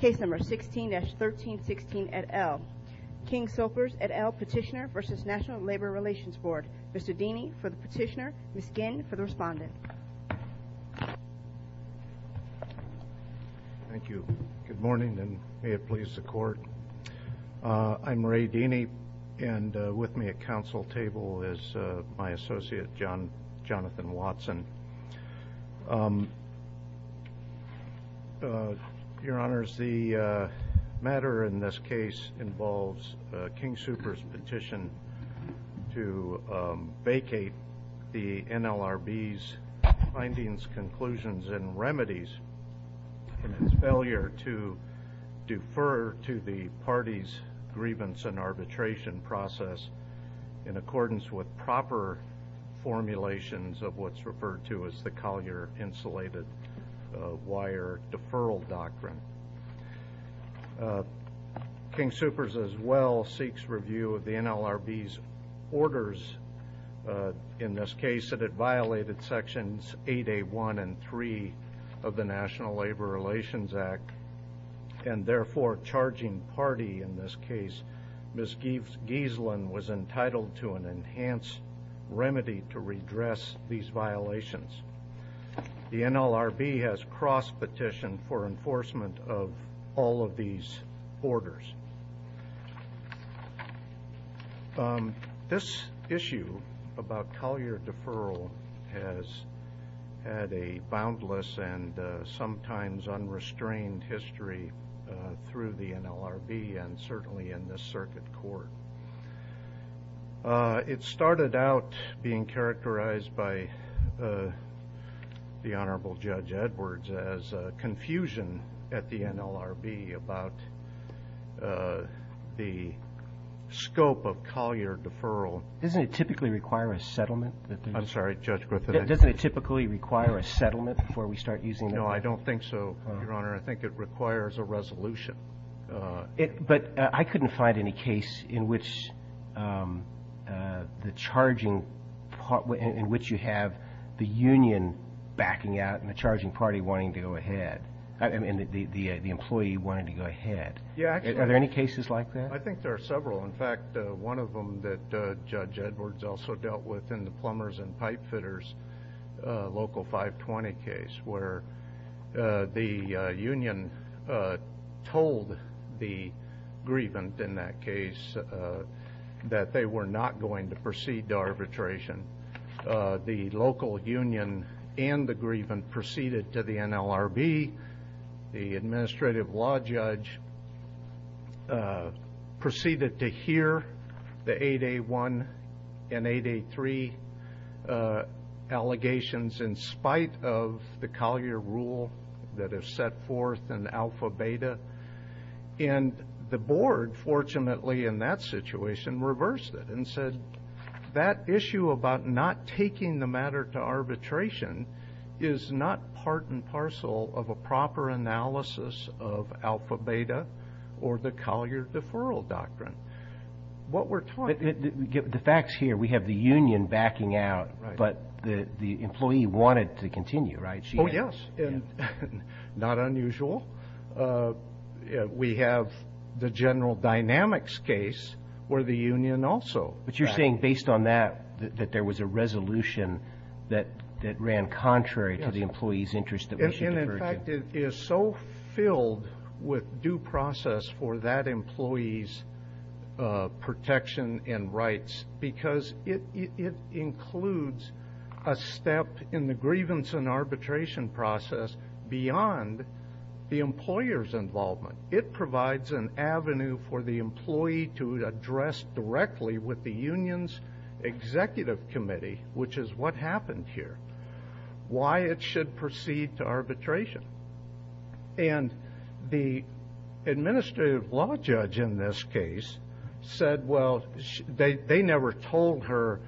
Case number 16-1316 et al. King Soopers et al Petitioner v. National Labor Relations Board. Mr. Deany for the petitioner, Ms. Ginn for the respondent. Thank you. Good morning and may it please the court. I'm Ray Deany and with me at council table is my associate, Jonathan Watson. Your honors, the matter in this case involves King Soopers' petition to vacate the NLRB's findings, conclusions, and remedies and his failure to defer to the party's grievance and arbitration process in accordance with proper formulations of what's referred to as the Collier Insulated Wire Deferral Doctrine. King Soopers as well seeks review of the NLRB's orders in this case that it violated sections 8A1 and 3 of the National Labor Relations Act and therefore charging party in this case, Ms. Giesland, was entitled to an enhanced remedy to redress these violations. The NLRB has cross-petitioned for enforcement of all of these orders. This issue about Collier deferral has had a boundless and sometimes unrestrained history through the NLRB and certainly in this circuit court. It started out being characterized by the Honorable Judge Edwards as confusion at the NLRB about the scope of Collier deferral. Doesn't it typically require a settlement? I'm sorry, Judge Griffith. Doesn't it typically require a settlement before we start using it? No, I don't think so, Your Honor. I think it requires a resolution. But I couldn't find any case in which the charging – in which you have the union backing out and the charging party wanting to go ahead and the employee wanting to go ahead. Yeah. Are there any cases like that? I think there are several. In fact, one of them that Judge Edwards also dealt with in the plumbers and pipe fitters, local 520 case, where the union told the grievant in that case that they were not going to proceed to arbitration. The local union and the grievant proceeded to the NLRB. The administrative law judge proceeded to hear the 8A1 and 8A3 allegations in spite of the Collier rule that is set forth in alpha beta. And the board, fortunately in that situation, reversed it and said that issue about not taking the matter to arbitration is not part and parcel of a proper analysis of alpha beta or the Collier deferral doctrine. What we're talking – The facts here, we have the union backing out, but the employee wanted to continue, right? Oh, yes. Not unusual. We have the general dynamics case where the union also backed out. But you're saying based on that that there was a resolution that ran contrary to the employee's interest that we should defer to? And, in fact, it is so filled with due process for that employee's protection and rights because it includes a step in the grievance and arbitration process beyond the employer's involvement. It provides an avenue for the employee to address directly with the union's executive committee, which is what happened here, why it should proceed to arbitration. And the administrative law judge in this case said, well, they never told her,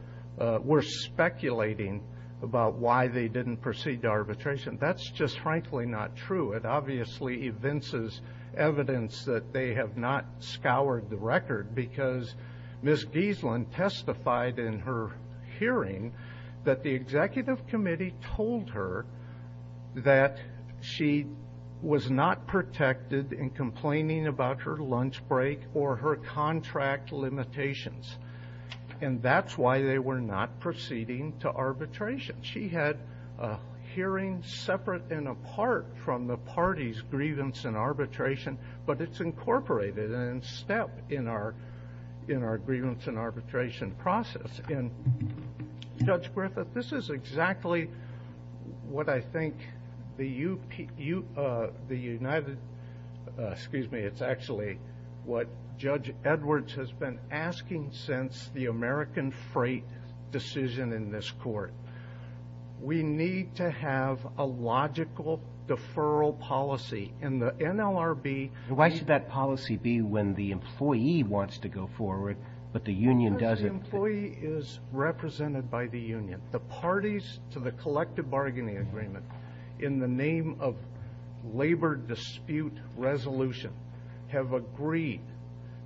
we're speculating about why they didn't proceed to arbitration. That's just frankly not true. It obviously evinces evidence that they have not scoured the record because Ms. Giesland testified in her hearing that the executive committee told her that she was not protected in complaining about her lunch break or her contract limitations, and that's why they were not proceeding to arbitration. She had a hearing separate and apart from the party's grievance and arbitration, but it's incorporated in a step in our grievance and arbitration process. And, Judge Griffith, this is exactly what I think the United, excuse me, it's actually what Judge Edwards has been asking since the American Freight decision in this court. We need to have a logical deferral policy in the NLRB. Why should that policy be when the employee wants to go forward, but the union doesn't? Because the employee is represented by the union. The parties to the collective bargaining agreement in the name of labor dispute resolution have agreed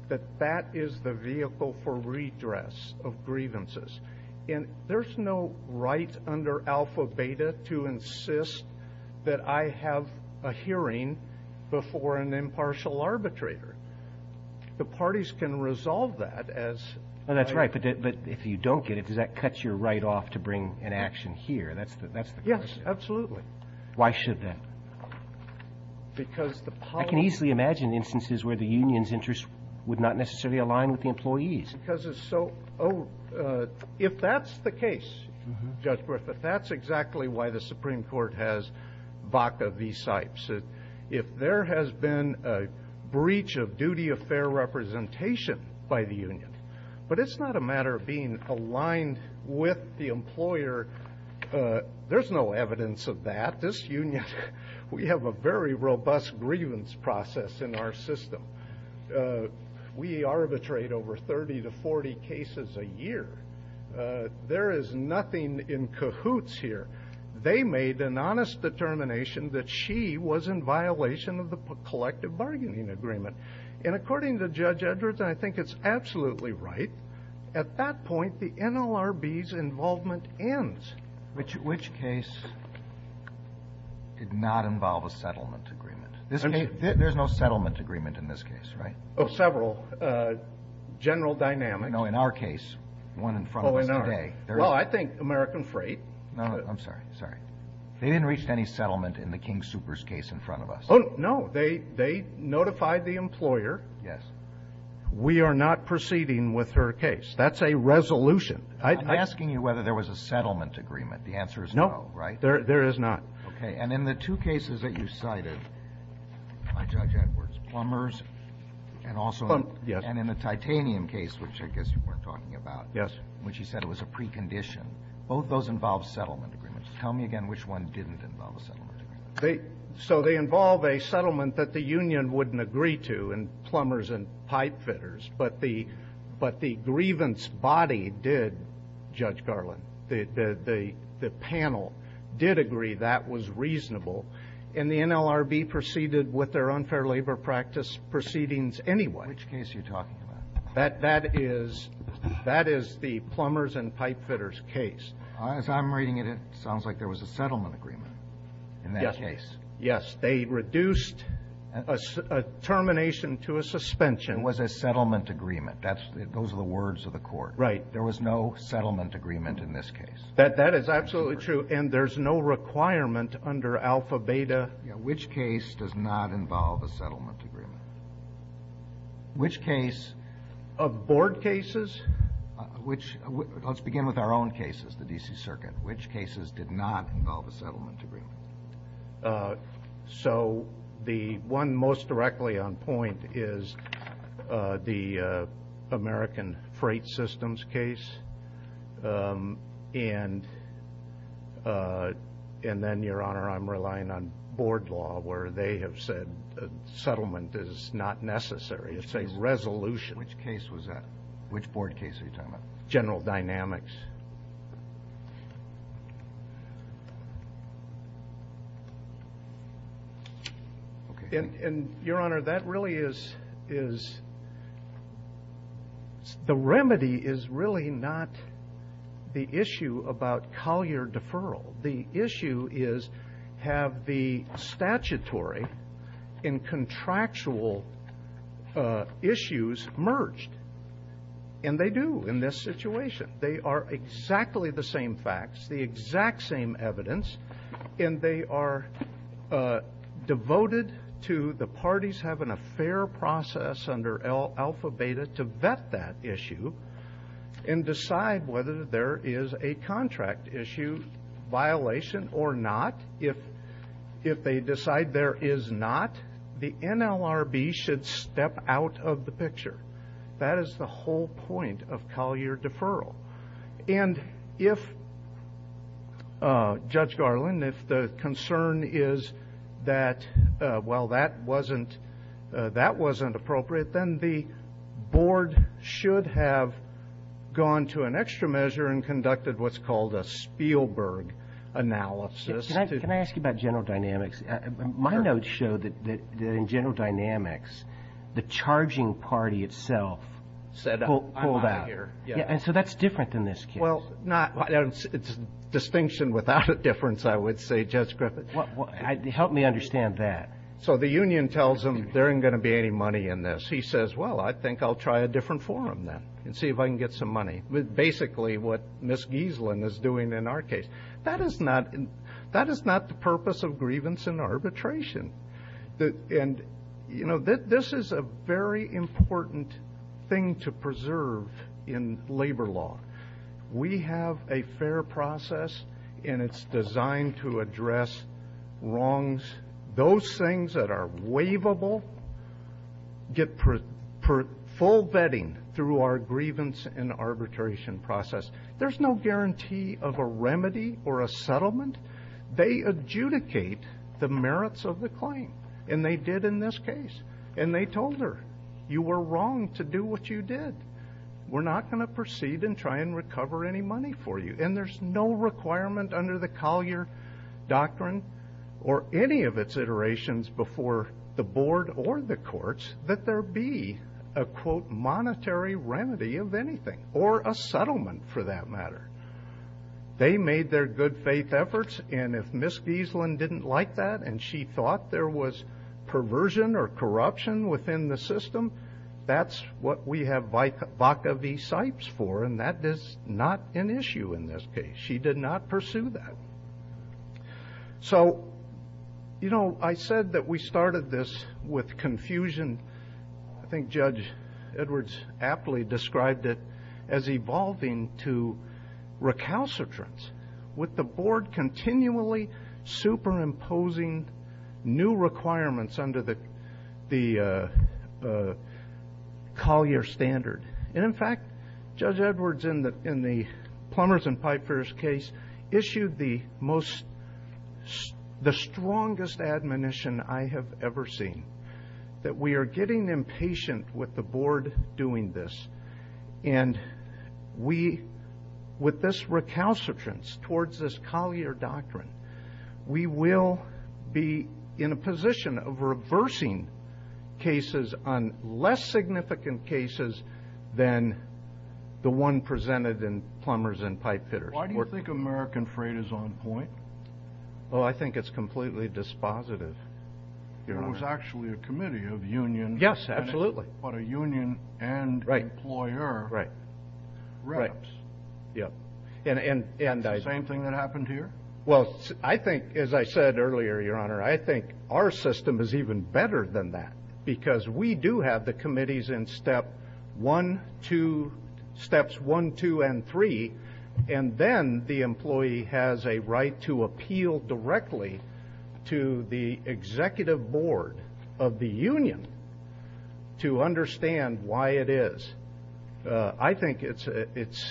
that that is the vehicle for redress of grievances. And there's no right under alpha-beta to insist that I have a hearing before an impartial arbitrator. The parties can resolve that as I do. Well, that's right, but if you don't get it, does that cut your right off to bring an action here? That's the question. Yes, absolutely. Why should that? Because the policy. I can easily imagine instances where the union's interest would not necessarily align with the employee's. If that's the case, Judge Griffith, that's exactly why the Supreme Court has Vaca v. Sipes. If there has been a breach of duty of fair representation by the union, but it's not a matter of being aligned with the employer, there's no evidence of that. This union, we have a very robust grievance process in our system. We arbitrate over 30 to 40 cases a year. There is nothing in cahoots here. They made an honest determination that she was in violation of the collective bargaining agreement. And according to Judge Edwards, and I think it's absolutely right, at that point the NLRB's involvement ends. Which case did not involve a settlement agreement? There's no settlement agreement in this case, right? Several. General dynamics. No, in our case, the one in front of us today. Well, I think American Freight. No, I'm sorry. Sorry. They didn't reach any settlement in the King Soopers case in front of us. Oh, no. They notified the employer. Yes. We are not proceeding with her case. That's a resolution. I'm asking you whether there was a settlement agreement. The answer is no, right? No, there is not. Okay. And in the two cases that you cited by Judge Edwards, plumbers and also the titanium case, which I guess you weren't talking about. Yes. Which you said was a precondition. Both of those involve settlement agreements. Tell me again which one didn't involve a settlement agreement. So they involve a settlement that the union wouldn't agree to in plumbers and pipe fitters. But the grievance body did, Judge Garland, the panel did agree that was reasonable. And the NLRB proceeded with their unfair labor practice proceedings anyway. Which case are you talking about? That is the plumbers and pipe fitters case. As I'm reading it, it sounds like there was a settlement agreement in that case. Yes. They reduced a termination to a suspension. It was a settlement agreement. Those are the words of the court. Right. There was no settlement agreement in this case. That is absolutely true. And there's no requirement under Alpha Beta. Which case does not involve a settlement agreement? Which case? Board cases. Let's begin with our own cases, the D.C. Circuit. Which cases did not involve a settlement agreement? So the one most directly on point is the American Freight Systems case. And then, Your Honor, I'm relying on board law where they have said settlement is not necessary. It's a resolution. Which case was that? Which board case are you talking about? General Dynamics. Okay. And, Your Honor, that really is the remedy is really not the issue about Collier deferral. The issue is have the statutory and contractual issues merged. And they do in this situation. They are exactly the same facts, the exact same evidence. And they are devoted to the parties having a fair process under Alpha Beta to vet that issue and decide whether there is a contract issue violation or not. If they decide there is not, the NLRB should step out of the picture. That is the whole point of Collier deferral. And if, Judge Garland, if the concern is that, well, that wasn't appropriate, then the board should have gone to an extra measure and conducted what's called a Spielberg analysis. Can I ask you about General Dynamics? My notes show that in General Dynamics the charging party itself pulled out. And so that's different than this case. Well, it's distinction without a difference, I would say, Judge Griffith. Help me understand that. So the union tells them there isn't going to be any money in this. He says, well, I think I'll try a different forum then and see if I can get some money, basically what Ms. Gieselin is doing in our case. That is not the purpose of grievance and arbitration. And, you know, this is a very important thing to preserve in labor law. We have a fair process, and it's designed to address wrongs. Those things that are waivable get full vetting through our grievance and arbitration process. There's no guarantee of a remedy or a settlement. They adjudicate the merits of the claim, and they did in this case. And they told her, you were wrong to do what you did. We're not going to proceed and try and recover any money for you. And there's no requirement under the Collier Doctrine or any of its iterations before the board or the courts that there be a, quote, monetary remedy of anything, or a settlement for that matter. They made their good faith efforts, and if Ms. Gieselin didn't like that and she thought there was perversion or corruption within the system, that's what we have Vaca v. Sipes for, and that is not an issue in this case. She did not pursue that. So, you know, I said that we started this with confusion. And I think Judge Edwards aptly described it as evolving to recalcitrance, with the board continually superimposing new requirements under the Collier standard. And, in fact, Judge Edwards, in the Plumbers and Pipefares case, issued the strongest admonition I have ever seen, that we are getting impatient with the board doing this. And we, with this recalcitrance towards this Collier Doctrine, we will be in a position of reversing cases on less significant cases than the one presented in Plumbers and Pipefitters. Why do you think American Freight is on point? Well, I think it's completely dispositive, Your Honor. It was actually a committee of unions. Yes, absolutely. But a union and employer reps. Is it the same thing that happened here? Well, I think, as I said earlier, Your Honor, I think our system is even better than that, because we do have the committees in Step 1, 2, Steps 1, 2, and 3, and then the employee has a right to appeal directly to the executive board of the union to understand why it is. I think it's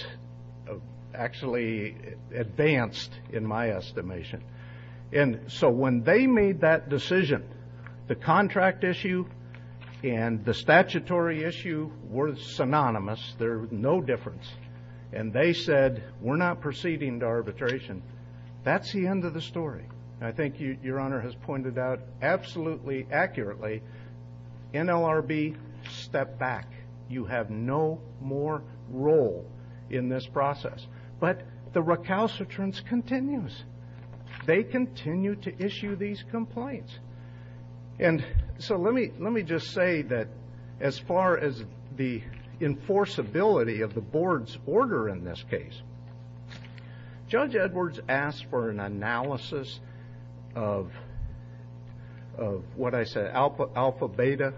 actually advanced in my estimation. And so when they made that decision, the contract issue and the statutory issue were synonymous. There was no difference. And they said, we're not proceeding to arbitration. That's the end of the story. And I think Your Honor has pointed out absolutely accurately, NLRB, step back. You have no more role in this process. But the recalcitrance continues. They continue to issue these complaints. And so let me just say that as far as the enforceability of the board's order in this case, Judge Edwards asked for an analysis of what I said, alpha beta.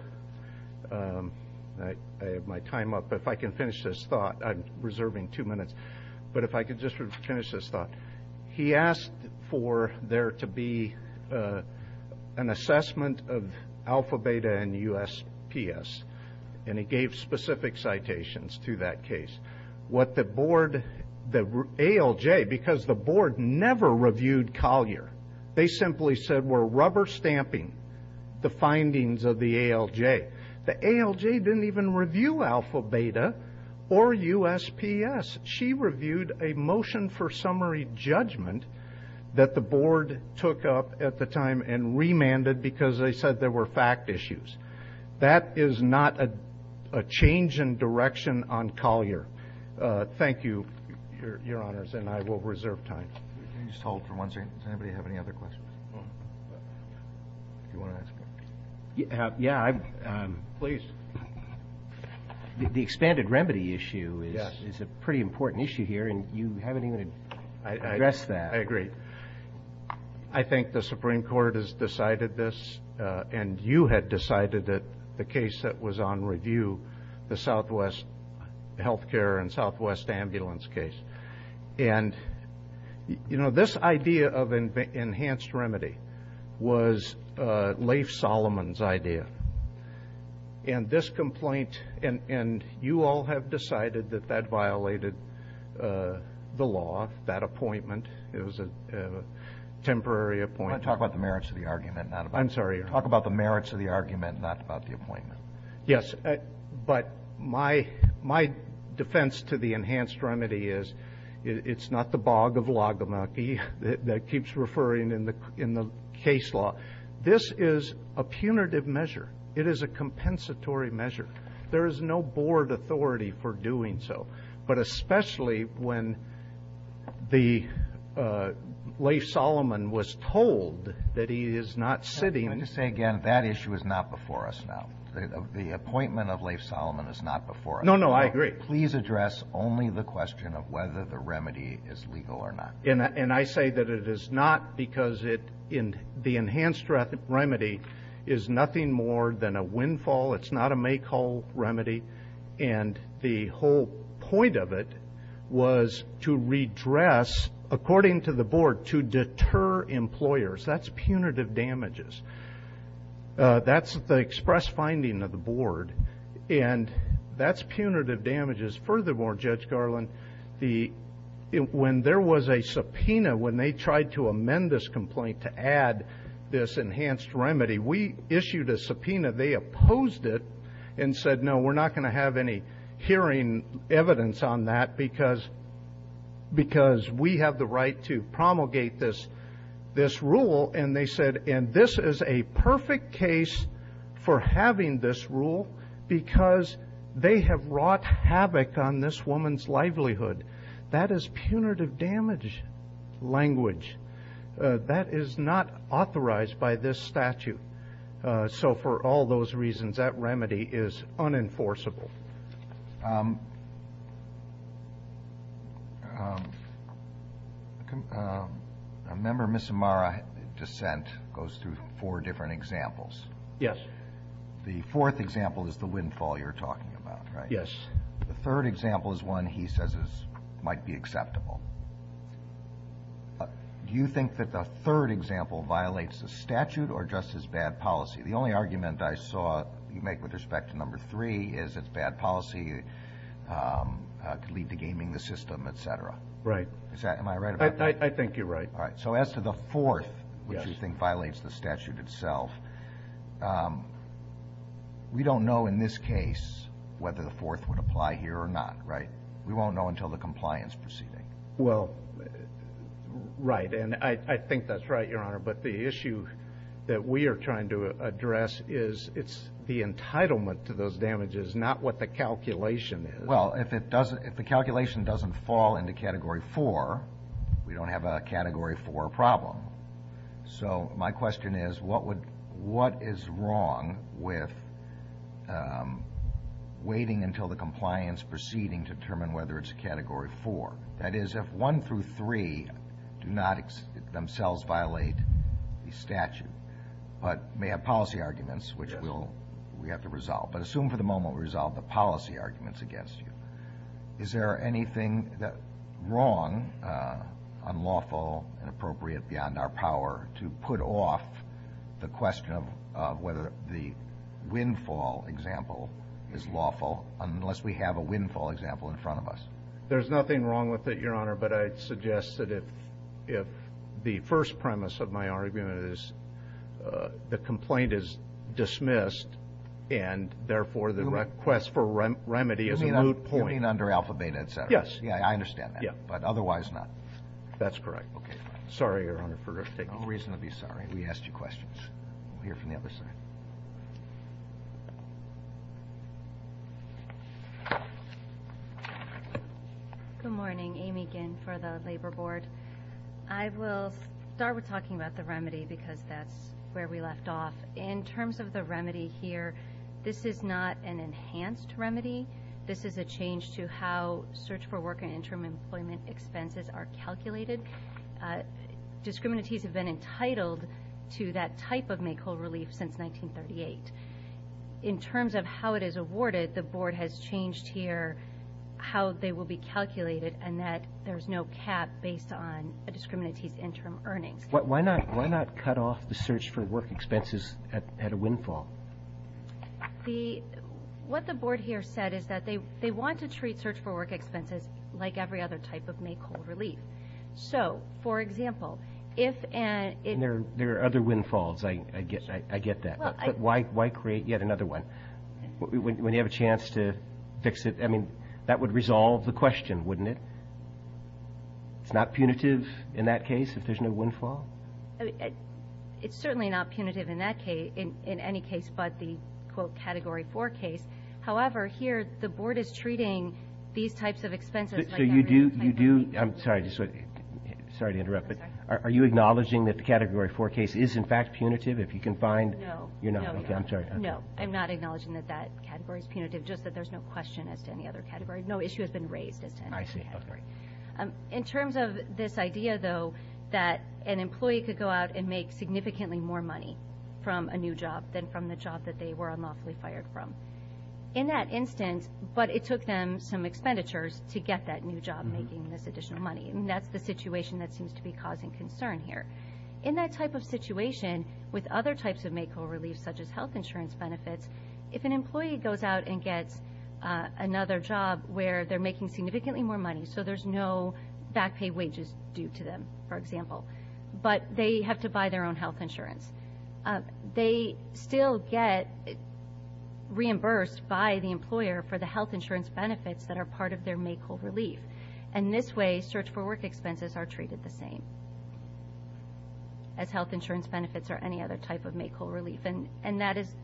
I have my time up. If I can finish this thought. I'm reserving two minutes. But if I could just finish this thought. He asked for there to be an assessment of alpha beta and USPS. And he gave specific citations to that case. What the board, the ALJ, because the board never reviewed Collier. They simply said we're rubber stamping the findings of the ALJ. The ALJ didn't even review alpha beta or USPS. She reviewed a motion for summary judgment that the board took up at the time and remanded because they said there were fact issues. That is not a change in direction on Collier. Thank you, Your Honors. And I will reserve time. Can you just hold for one second? Does anybody have any other questions? Do you want to ask? Yeah. Please. The expanded remedy issue is a pretty important issue here. And you haven't even addressed that. I agree. I think the Supreme Court has decided this. And you had decided that the case that was on review, the Southwest Healthcare and Southwest Ambulance case. And, you know, this idea of enhanced remedy was Leif Solomon's idea. And this complaint, and you all have decided that that violated the law, that appointment. It was a temporary appointment. I want to talk about the merits of the argument, not about the appointment. I'm sorry. Talk about the merits of the argument, not about the appointment. Yes. But my defense to the enhanced remedy is it's not the bog of logamakie that keeps referring in the case law. This is a punitive measure. It is a compensatory measure. There is no board authority for doing so. But especially when the Leif Solomon was told that he is not sitting. Let me just say again, that issue is not before us now. The appointment of Leif Solomon is not before us. No, no, I agree. Please address only the question of whether the remedy is legal or not. And I say that it is not because the enhanced remedy is nothing more than a windfall. It's not a make-all remedy. And the whole point of it was to redress, according to the board, to deter employers. That's punitive damages. That's the express finding of the board. And that's punitive damages. Furthermore, Judge Garland, when there was a subpoena, when they tried to amend this complaint to add this enhanced remedy, we issued a subpoena. They opposed it and said, no, we're not going to have any hearing evidence on that because we have the right to promulgate this rule. And they said, and this is a perfect case for having this rule because they have wrought havoc on this woman's livelihood. That is punitive damage language. That is not authorized by this statute. So for all those reasons, that remedy is unenforceable. Roberts. A member of Missoumara dissent goes through four different examples. Yes. The fourth example is the windfall you're talking about, right? Yes. The third example is one he says might be acceptable. Do you think that the third example violates the statute or just is bad policy? The only argument I saw you make with respect to number three is it's bad policy, could lead to gaming the system, et cetera. Right. Am I right about that? I think you're right. All right. So as to the fourth, which you think violates the statute itself, we don't know in this case whether the fourth would apply here or not, right? We won't know until the compliance proceeding. Well, right. And I think that's right, Your Honor. But the issue that we are trying to address is it's the entitlement to those damages, not what the calculation is. Well, if the calculation doesn't fall into Category 4, we don't have a Category 4 problem. So my question is, what is wrong with waiting until the compliance proceeding to determine whether it's a Category 4? That is, if 1 through 3 do not themselves violate the statute but may have policy arguments, which we'll – we have to resolve. But assume for the moment we resolve the policy arguments against you. Is there anything wrong, unlawful, inappropriate beyond our power to put off the question of whether the windfall example is lawful unless we have a windfall example in front of us? There's nothing wrong with it, Your Honor, but I'd suggest that if the first premise of my argument is the complaint is dismissed and, therefore, the request for remedy is a moot point. You mean under Alpha, Beta, et cetera? Yes. Yeah, I understand that. Yeah. But otherwise not? That's correct. Okay. Sorry, Your Honor, for taking the time. No reason to be sorry. We asked you questions. We'll hear from the other side. Good morning. Amy Ginn for the Labor Board. I will start with talking about the remedy because that's where we left off. In terms of the remedy here, this is not an enhanced remedy. This is a change to how search for work and interim employment expenses are calculated. Discriminatees have been entitled to that type of May coal relief since 1938. In terms of how it is awarded, the Board has changed here how they will be calculated and that there's no cap based on a discriminatee's interim earnings. Why not cut off the search for work expenses at a windfall? What the Board here said is that they want to treat search for work expenses like every other type of May coal relief. So, for example, if and – There are other windfalls. I get that. But why create yet another one when you have a chance to fix it? I mean, that would resolve the question, wouldn't it? It's not punitive in that case if there's no windfall? It's certainly not punitive in that case, in any case but the, quote, Category 4 case. I'm sorry to interrupt, but are you acknowledging that the Category 4 case is, in fact, punitive? If you can find – No. No, I'm not acknowledging that that category is punitive, just that there's no question as to any other category. No issue has been raised as to any other category. I see. In terms of this idea, though, that an employee could go out and make significantly more money from a new job than from the job that they were unlawfully fired from, in that instance, but it took them some expenditures to get that new job making this additional money. And that's the situation that seems to be causing concern here. In that type of situation, with other types of makeover reliefs, such as health insurance benefits, if an employee goes out and gets another job where they're making significantly more money, so there's no back pay wages due to them, for example, but they have to buy their own health insurance, they still get reimbursed by the employer for the health insurance benefits that are part of their makeover relief. And in this way, search-for-work expenses are treated the same as health insurance benefits or any other type of makeover relief. And that is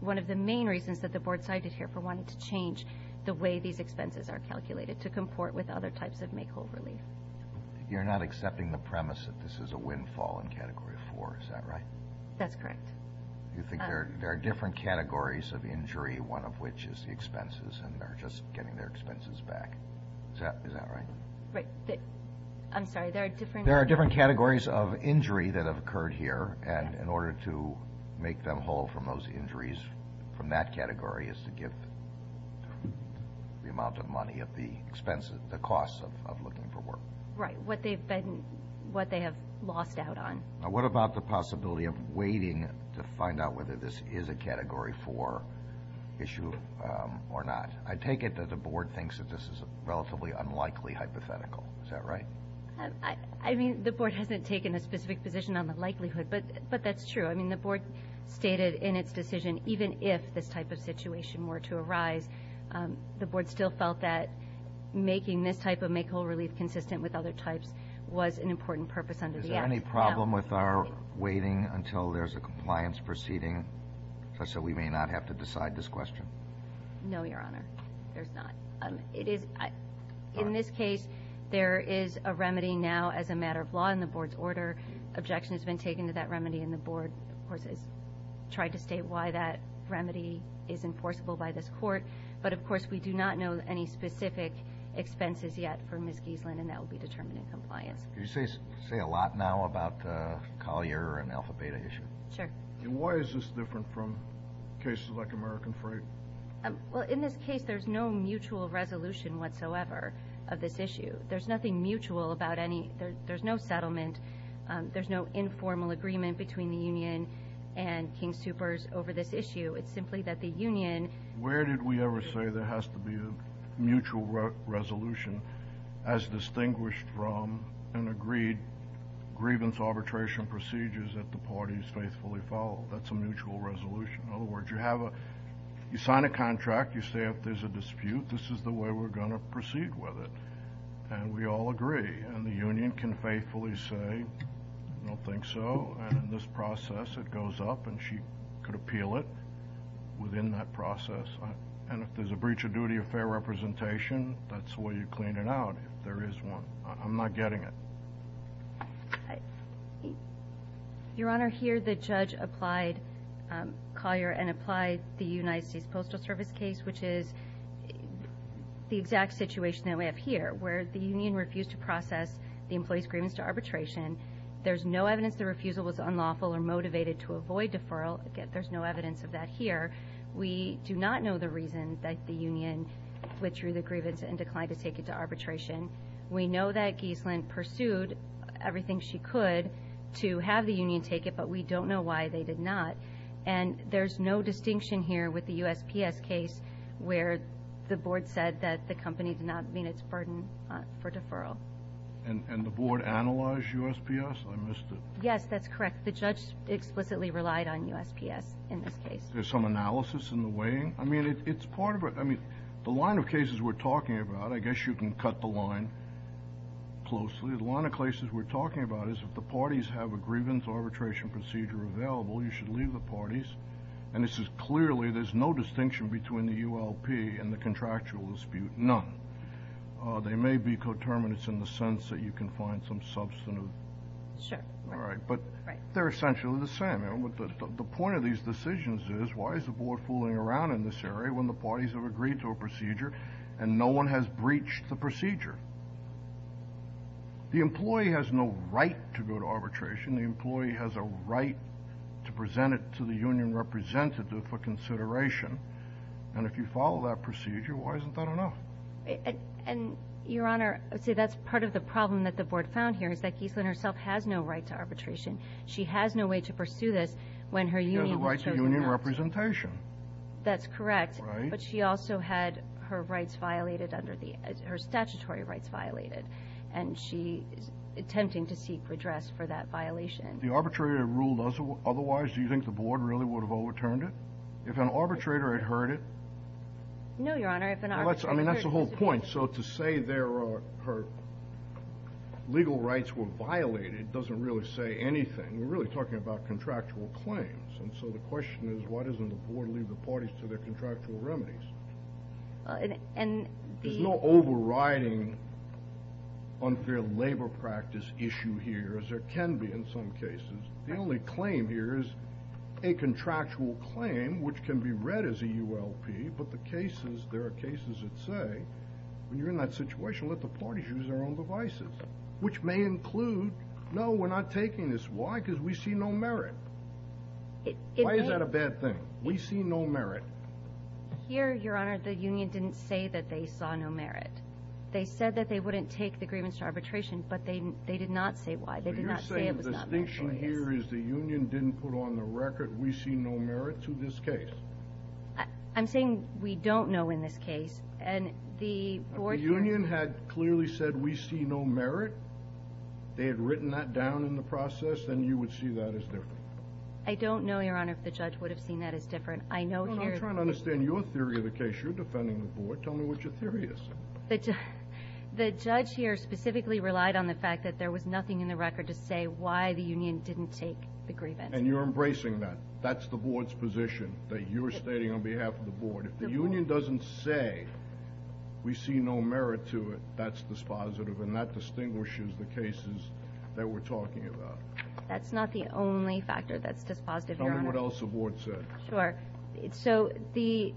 one of the main reasons that the Board cited here for wanting to change the way these expenses are calculated, to comport with other types of makeover relief. You're not accepting the premise that this is a windfall in Category 4, is that right? That's correct. You think there are different categories of injury, one of which is the expenses, and they're just getting their expenses back. Is that right? Right. I'm sorry. There are different categories of injury that have occurred here, and in order to make them whole from those injuries, from that category, is to give the amount of money of the expenses, the costs of looking for work. Right, what they have lost out on. Now, what about the possibility of waiting to find out whether this is a Category 4 issue or not? I take it that the Board thinks that this is a relatively unlikely hypothetical. Is that right? I mean, the Board hasn't taken a specific position on the likelihood, but that's true. I mean, the Board stated in its decision, even if this type of situation were to arise, the Board still felt that making this type of makeover relief consistent with other types was an important purpose under the Act. Is there any problem with our waiting until there's a compliance proceeding, such that we may not have to decide this question? No, Your Honor, there's not. In this case, there is a remedy now as a matter of law in the Board's order. Objection has been taken to that remedy, and the Board, of course, has tried to state why that remedy is enforceable by this Court. But, of course, we do not know any specific expenses yet for Ms. Giesland, and that will be determined in compliance. Could you say a lot now about the Collier and Alpha Beta issue? Sure. And why is this different from cases like American Freight? Well, in this case, there's no mutual resolution whatsoever of this issue. There's nothing mutual about any – there's no settlement. There's no informal agreement between the union and King Soopers over this issue. It's simply that the union – Where did we ever say there has to be a mutual resolution as distinguished from an agreed grievance arbitration procedure that the parties faithfully follow? That's a mutual resolution. In other words, you have a – you sign a contract, you say if there's a dispute, this is the way we're going to proceed with it. And we all agree. And the union can faithfully say, I don't think so. And in this process, it goes up, and she could appeal it within that process. And if there's a breach of duty of fair representation, that's the way you clean it out if there is one. I'm not getting it. Your Honor, here the judge applied Collier and applied the United States Postal Service case, which is the exact situation that we have here, where the union refused to process the employee's grievance to arbitration. There's no evidence the refusal was unlawful or motivated to avoid deferral. Again, there's no evidence of that here. We do not know the reason that the union withdrew the grievance and declined to take it to arbitration. We know that Giesland pursued everything she could to have the union take it, but we don't know why they did not. And there's no distinction here with the USPS case where the board said that the company did not meet its burden for deferral. And the board analyzed USPS? I missed it. Yes, that's correct. The judge explicitly relied on USPS in this case. There's some analysis in the weighing? I mean, it's part of a – I mean, the line of cases we're talking about, I guess you can cut the line closely. The line of cases we're talking about is if the parties have a grievance arbitration procedure available, you should leave the parties. And this is clearly – there's no distinction between the ULP and the contractual dispute, none. They may be coterminates in the sense that you can find some substantive – Sure. All right, but they're essentially the same. The point of these decisions is why is the board fooling around in this area when the parties have agreed to a procedure and no one has breached the procedure? The employee has no right to go to arbitration. The employee has a right to present it to the union representative for consideration. And if you follow that procedure, why isn't that enough? And, Your Honor, see, that's part of the problem that the board found here is that Geislin herself has no right to arbitration. She has no way to pursue this when her union has chosen not to. She has a right to union representation. That's correct. Right. But she also had her rights violated under the – her statutory rights violated. And she is attempting to seek redress for that violation. The arbitrator ruled otherwise. Do you think the board really would have overturned it? If an arbitrator had heard it – No, Your Honor. I mean, that's the whole point. So to say her legal rights were violated doesn't really say anything. We're really talking about contractual claims. And so the question is why doesn't the board leave the parties to their contractual remedies? There's no overriding unfair labor practice issue here, as there can be in some cases. The only claim here is a contractual claim, which can be read as a ULP, but the cases – there are cases that say when you're in that situation, let the parties use their own devices, which may include, no, we're not taking this. Why? Because we see no merit. Why is that a bad thing? We see no merit. Here, Your Honor, the union didn't say that they saw no merit. They said that they wouldn't take the grievance to arbitration, but they did not say why. They did not say it was not their choice. So you're saying the distinction here is the union didn't put on the record, we see no merit to this case? I'm saying we don't know in this case, and the board – If the union had clearly said, we see no merit, they had written that down in the process, then you would see that as different. I'm trying to understand your theory of the case. You're defending the board. Tell me what your theory is. The judge here specifically relied on the fact that there was nothing in the record to say why the union didn't take the grievance. And you're embracing that. That's the board's position, that you're stating on behalf of the board. If the union doesn't say, we see no merit to it, that's dispositive, and that distinguishes the cases that we're talking about. That's not the only factor that's dispositive, Your Honor. Tell me what else the board says. Sure. So the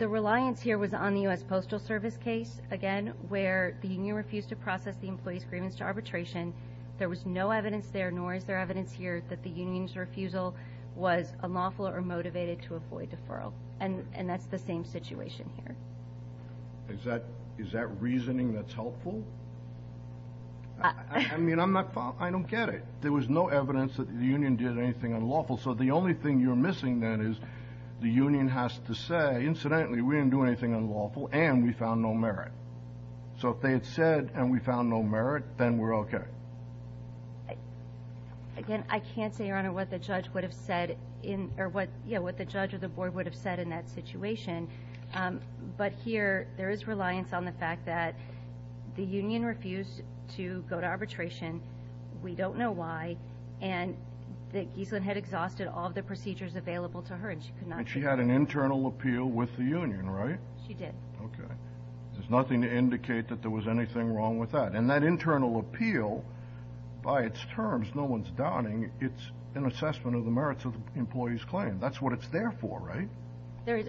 reliance here was on the U.S. Postal Service case, again, where the union refused to process the employee's grievance to arbitration. There was no evidence there, nor is there evidence here, that the union's refusal was unlawful or motivated to avoid deferral. And that's the same situation here. Is that reasoning that's helpful? I mean, I'm not – I don't get it. There was no evidence that the union did anything unlawful. So the only thing you're missing then is the union has to say, incidentally, we didn't do anything unlawful, and we found no merit. So if they had said, and we found no merit, then we're okay. Again, I can't say, Your Honor, what the judge would have said in – or what the judge or the board would have said in that situation. But here there is reliance on the fact that the union refused to go to arbitration. We don't know why. And that Giesland had exhausted all of the procedures available to her, and she could not – And she had an internal appeal with the union, right? She did. Okay. There's nothing to indicate that there was anything wrong with that. And that internal appeal, by its terms, no one's doubting, it's an assessment of the merits of the employee's claim. That's what it's there for, right?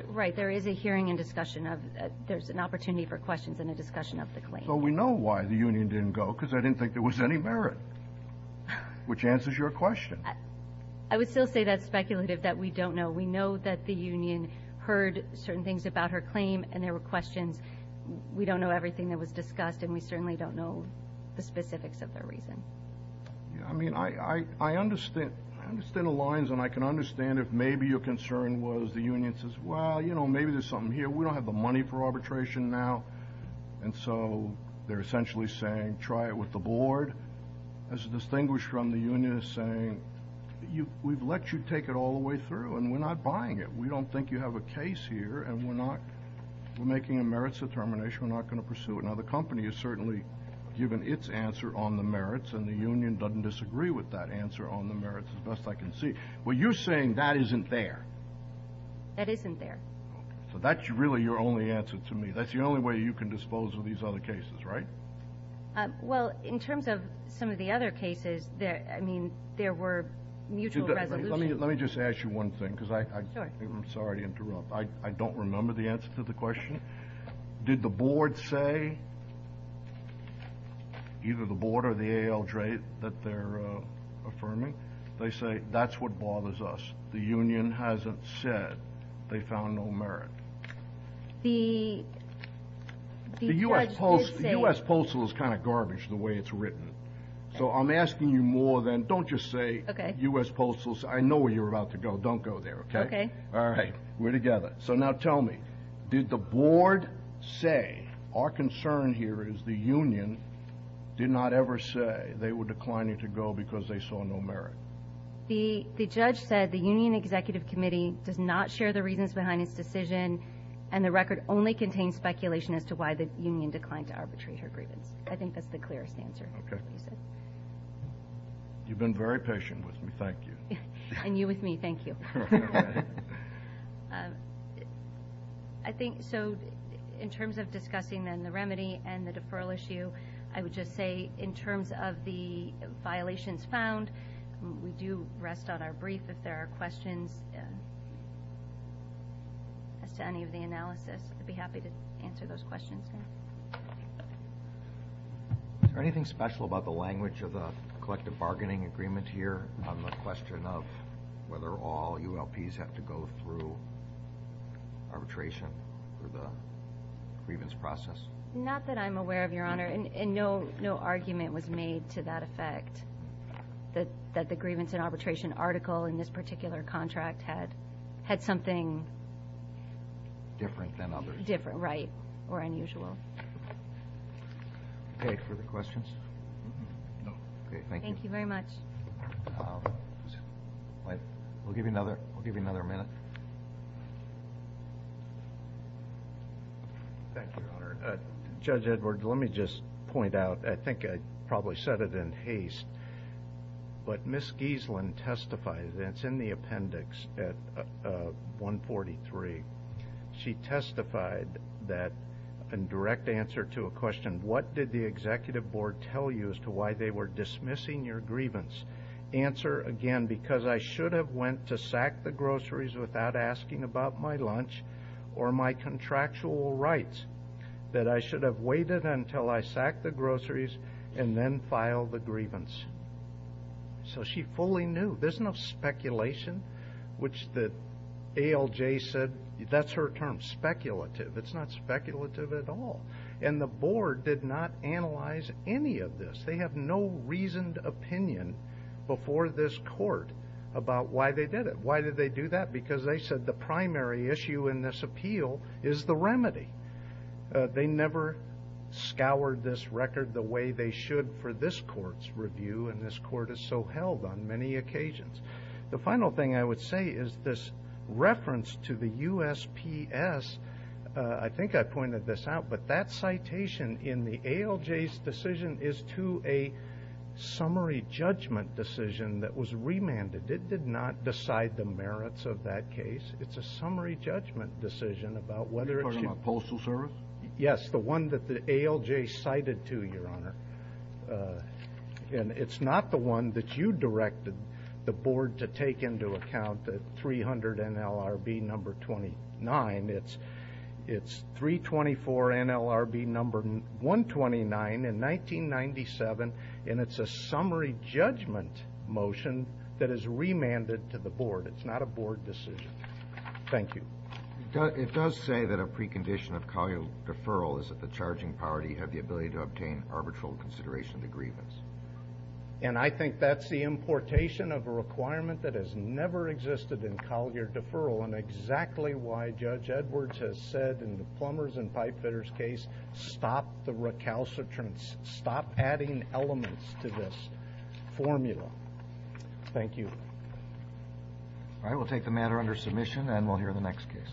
Right. There is a hearing and discussion of – there's an opportunity for questions and a discussion of the claim. So we know why the union didn't go, because they didn't think there was any merit. Which answers your question. I would still say that's speculative, that we don't know. We know that the union heard certain things about her claim, and there were questions. We don't know everything that was discussed, and we certainly don't know the specifics of their reason. I mean, I understand the lines, and I can understand if maybe your concern was the union says, well, you know, maybe there's something here. We don't have the money for arbitration now. And so they're essentially saying, try it with the board. As distinguished from the union is saying, we've let you take it all the way through, and we're not buying it. We don't think you have a case here, and we're not – we're making a merits determination. We're not going to pursue it. Now, the company has certainly given its answer on the merits, and the union doesn't disagree with that answer on the merits as best I can see. Well, you're saying that isn't there. That isn't there. So that's really your only answer to me. That's the only way you can dispose of these other cases, right? Well, in terms of some of the other cases, I mean, there were mutual resolutions. Let me just ask you one thing, because I – Sure. I'm sorry to interrupt. I don't remember the answer to the question. Did the board say – either the board or the ALJ that they're affirming – they say that's what bothers us. The union hasn't said they found no merit. The judge did say – The U.S. Postal is kind of garbage the way it's written. So I'm asking you more than – don't just say U.S. Postal. I know where you're about to go. Don't go there, okay? Okay. All right. We're together. So now tell me, did the board say – our concern here is the union did not ever say they were declining to go because they saw no merit. The judge said the union executive committee does not share the reasons behind its decision, and the record only contains speculation as to why the union declined to arbitrate her grievance. I think that's the clearest answer. Okay. You've been very patient with me. Thank you. And you with me. Thank you. I think – so in terms of discussing then the remedy and the deferral issue, I would just say in terms of the violations found, we do rest on our brief. If there are questions as to any of the analysis, I'd be happy to answer those questions. Is there anything special about the language of the collective bargaining agreement here on the question of whether all ULPs have to go through arbitration for the grievance process? Not that I'm aware of, Your Honor, and no argument was made to that effect, that the grievance and arbitration article in this particular contract had something – Different than others. Different, right, or unusual. Okay, further questions? No. Okay, thank you. Thank you very much. We'll give you another minute. Thank you, Your Honor. Judge Edwards, let me just point out, I think I probably said it in haste, but Ms. Giesland testified, and it's in the appendix at 143. She testified that in direct answer to a question, what did the executive board tell you as to why they were dismissing your grievance? Answer, again, because I should have went to sack the groceries without asking about my lunch or my contractual rights, that I should have waited until I sacked the groceries and then filed the grievance. So she fully knew. There's no speculation, which the ALJ said, that's her term, speculative. It's not speculative at all. And the board did not analyze any of this. They have no reasoned opinion before this court about why they did it. Why did they do that? Because they said the primary issue in this appeal is the remedy. They never scoured this record the way they should for this court's review, and this court has so held on many occasions. The final thing I would say is this reference to the USPS, I think I pointed this out, but that citation in the ALJ's decision is to a summary judgment decision that was remanded. It did not decide the merits of that case. It's a summary judgment decision about whether it should be. Are you talking about postal service? Yes, the one that the ALJ cited to, Your Honor. And it's not the one that you directed the board to take into account, the 300 NLRB number 29. It's 324 NLRB number 129 in 1997, and it's a summary judgment motion that is remanded to the board. It's not a board decision. Thank you. It does say that a precondition of collier deferral is that the charging party have the ability to obtain arbitral consideration of the grievance. And I think that's the importation of a requirement that has never existed in collier deferral and exactly why Judge Edwards has said in the plumbers and pipe fitters case, stop the recalcitrance, stop adding elements to this formula. Thank you. All right, we'll take the matter under submission, and we'll hear the next case.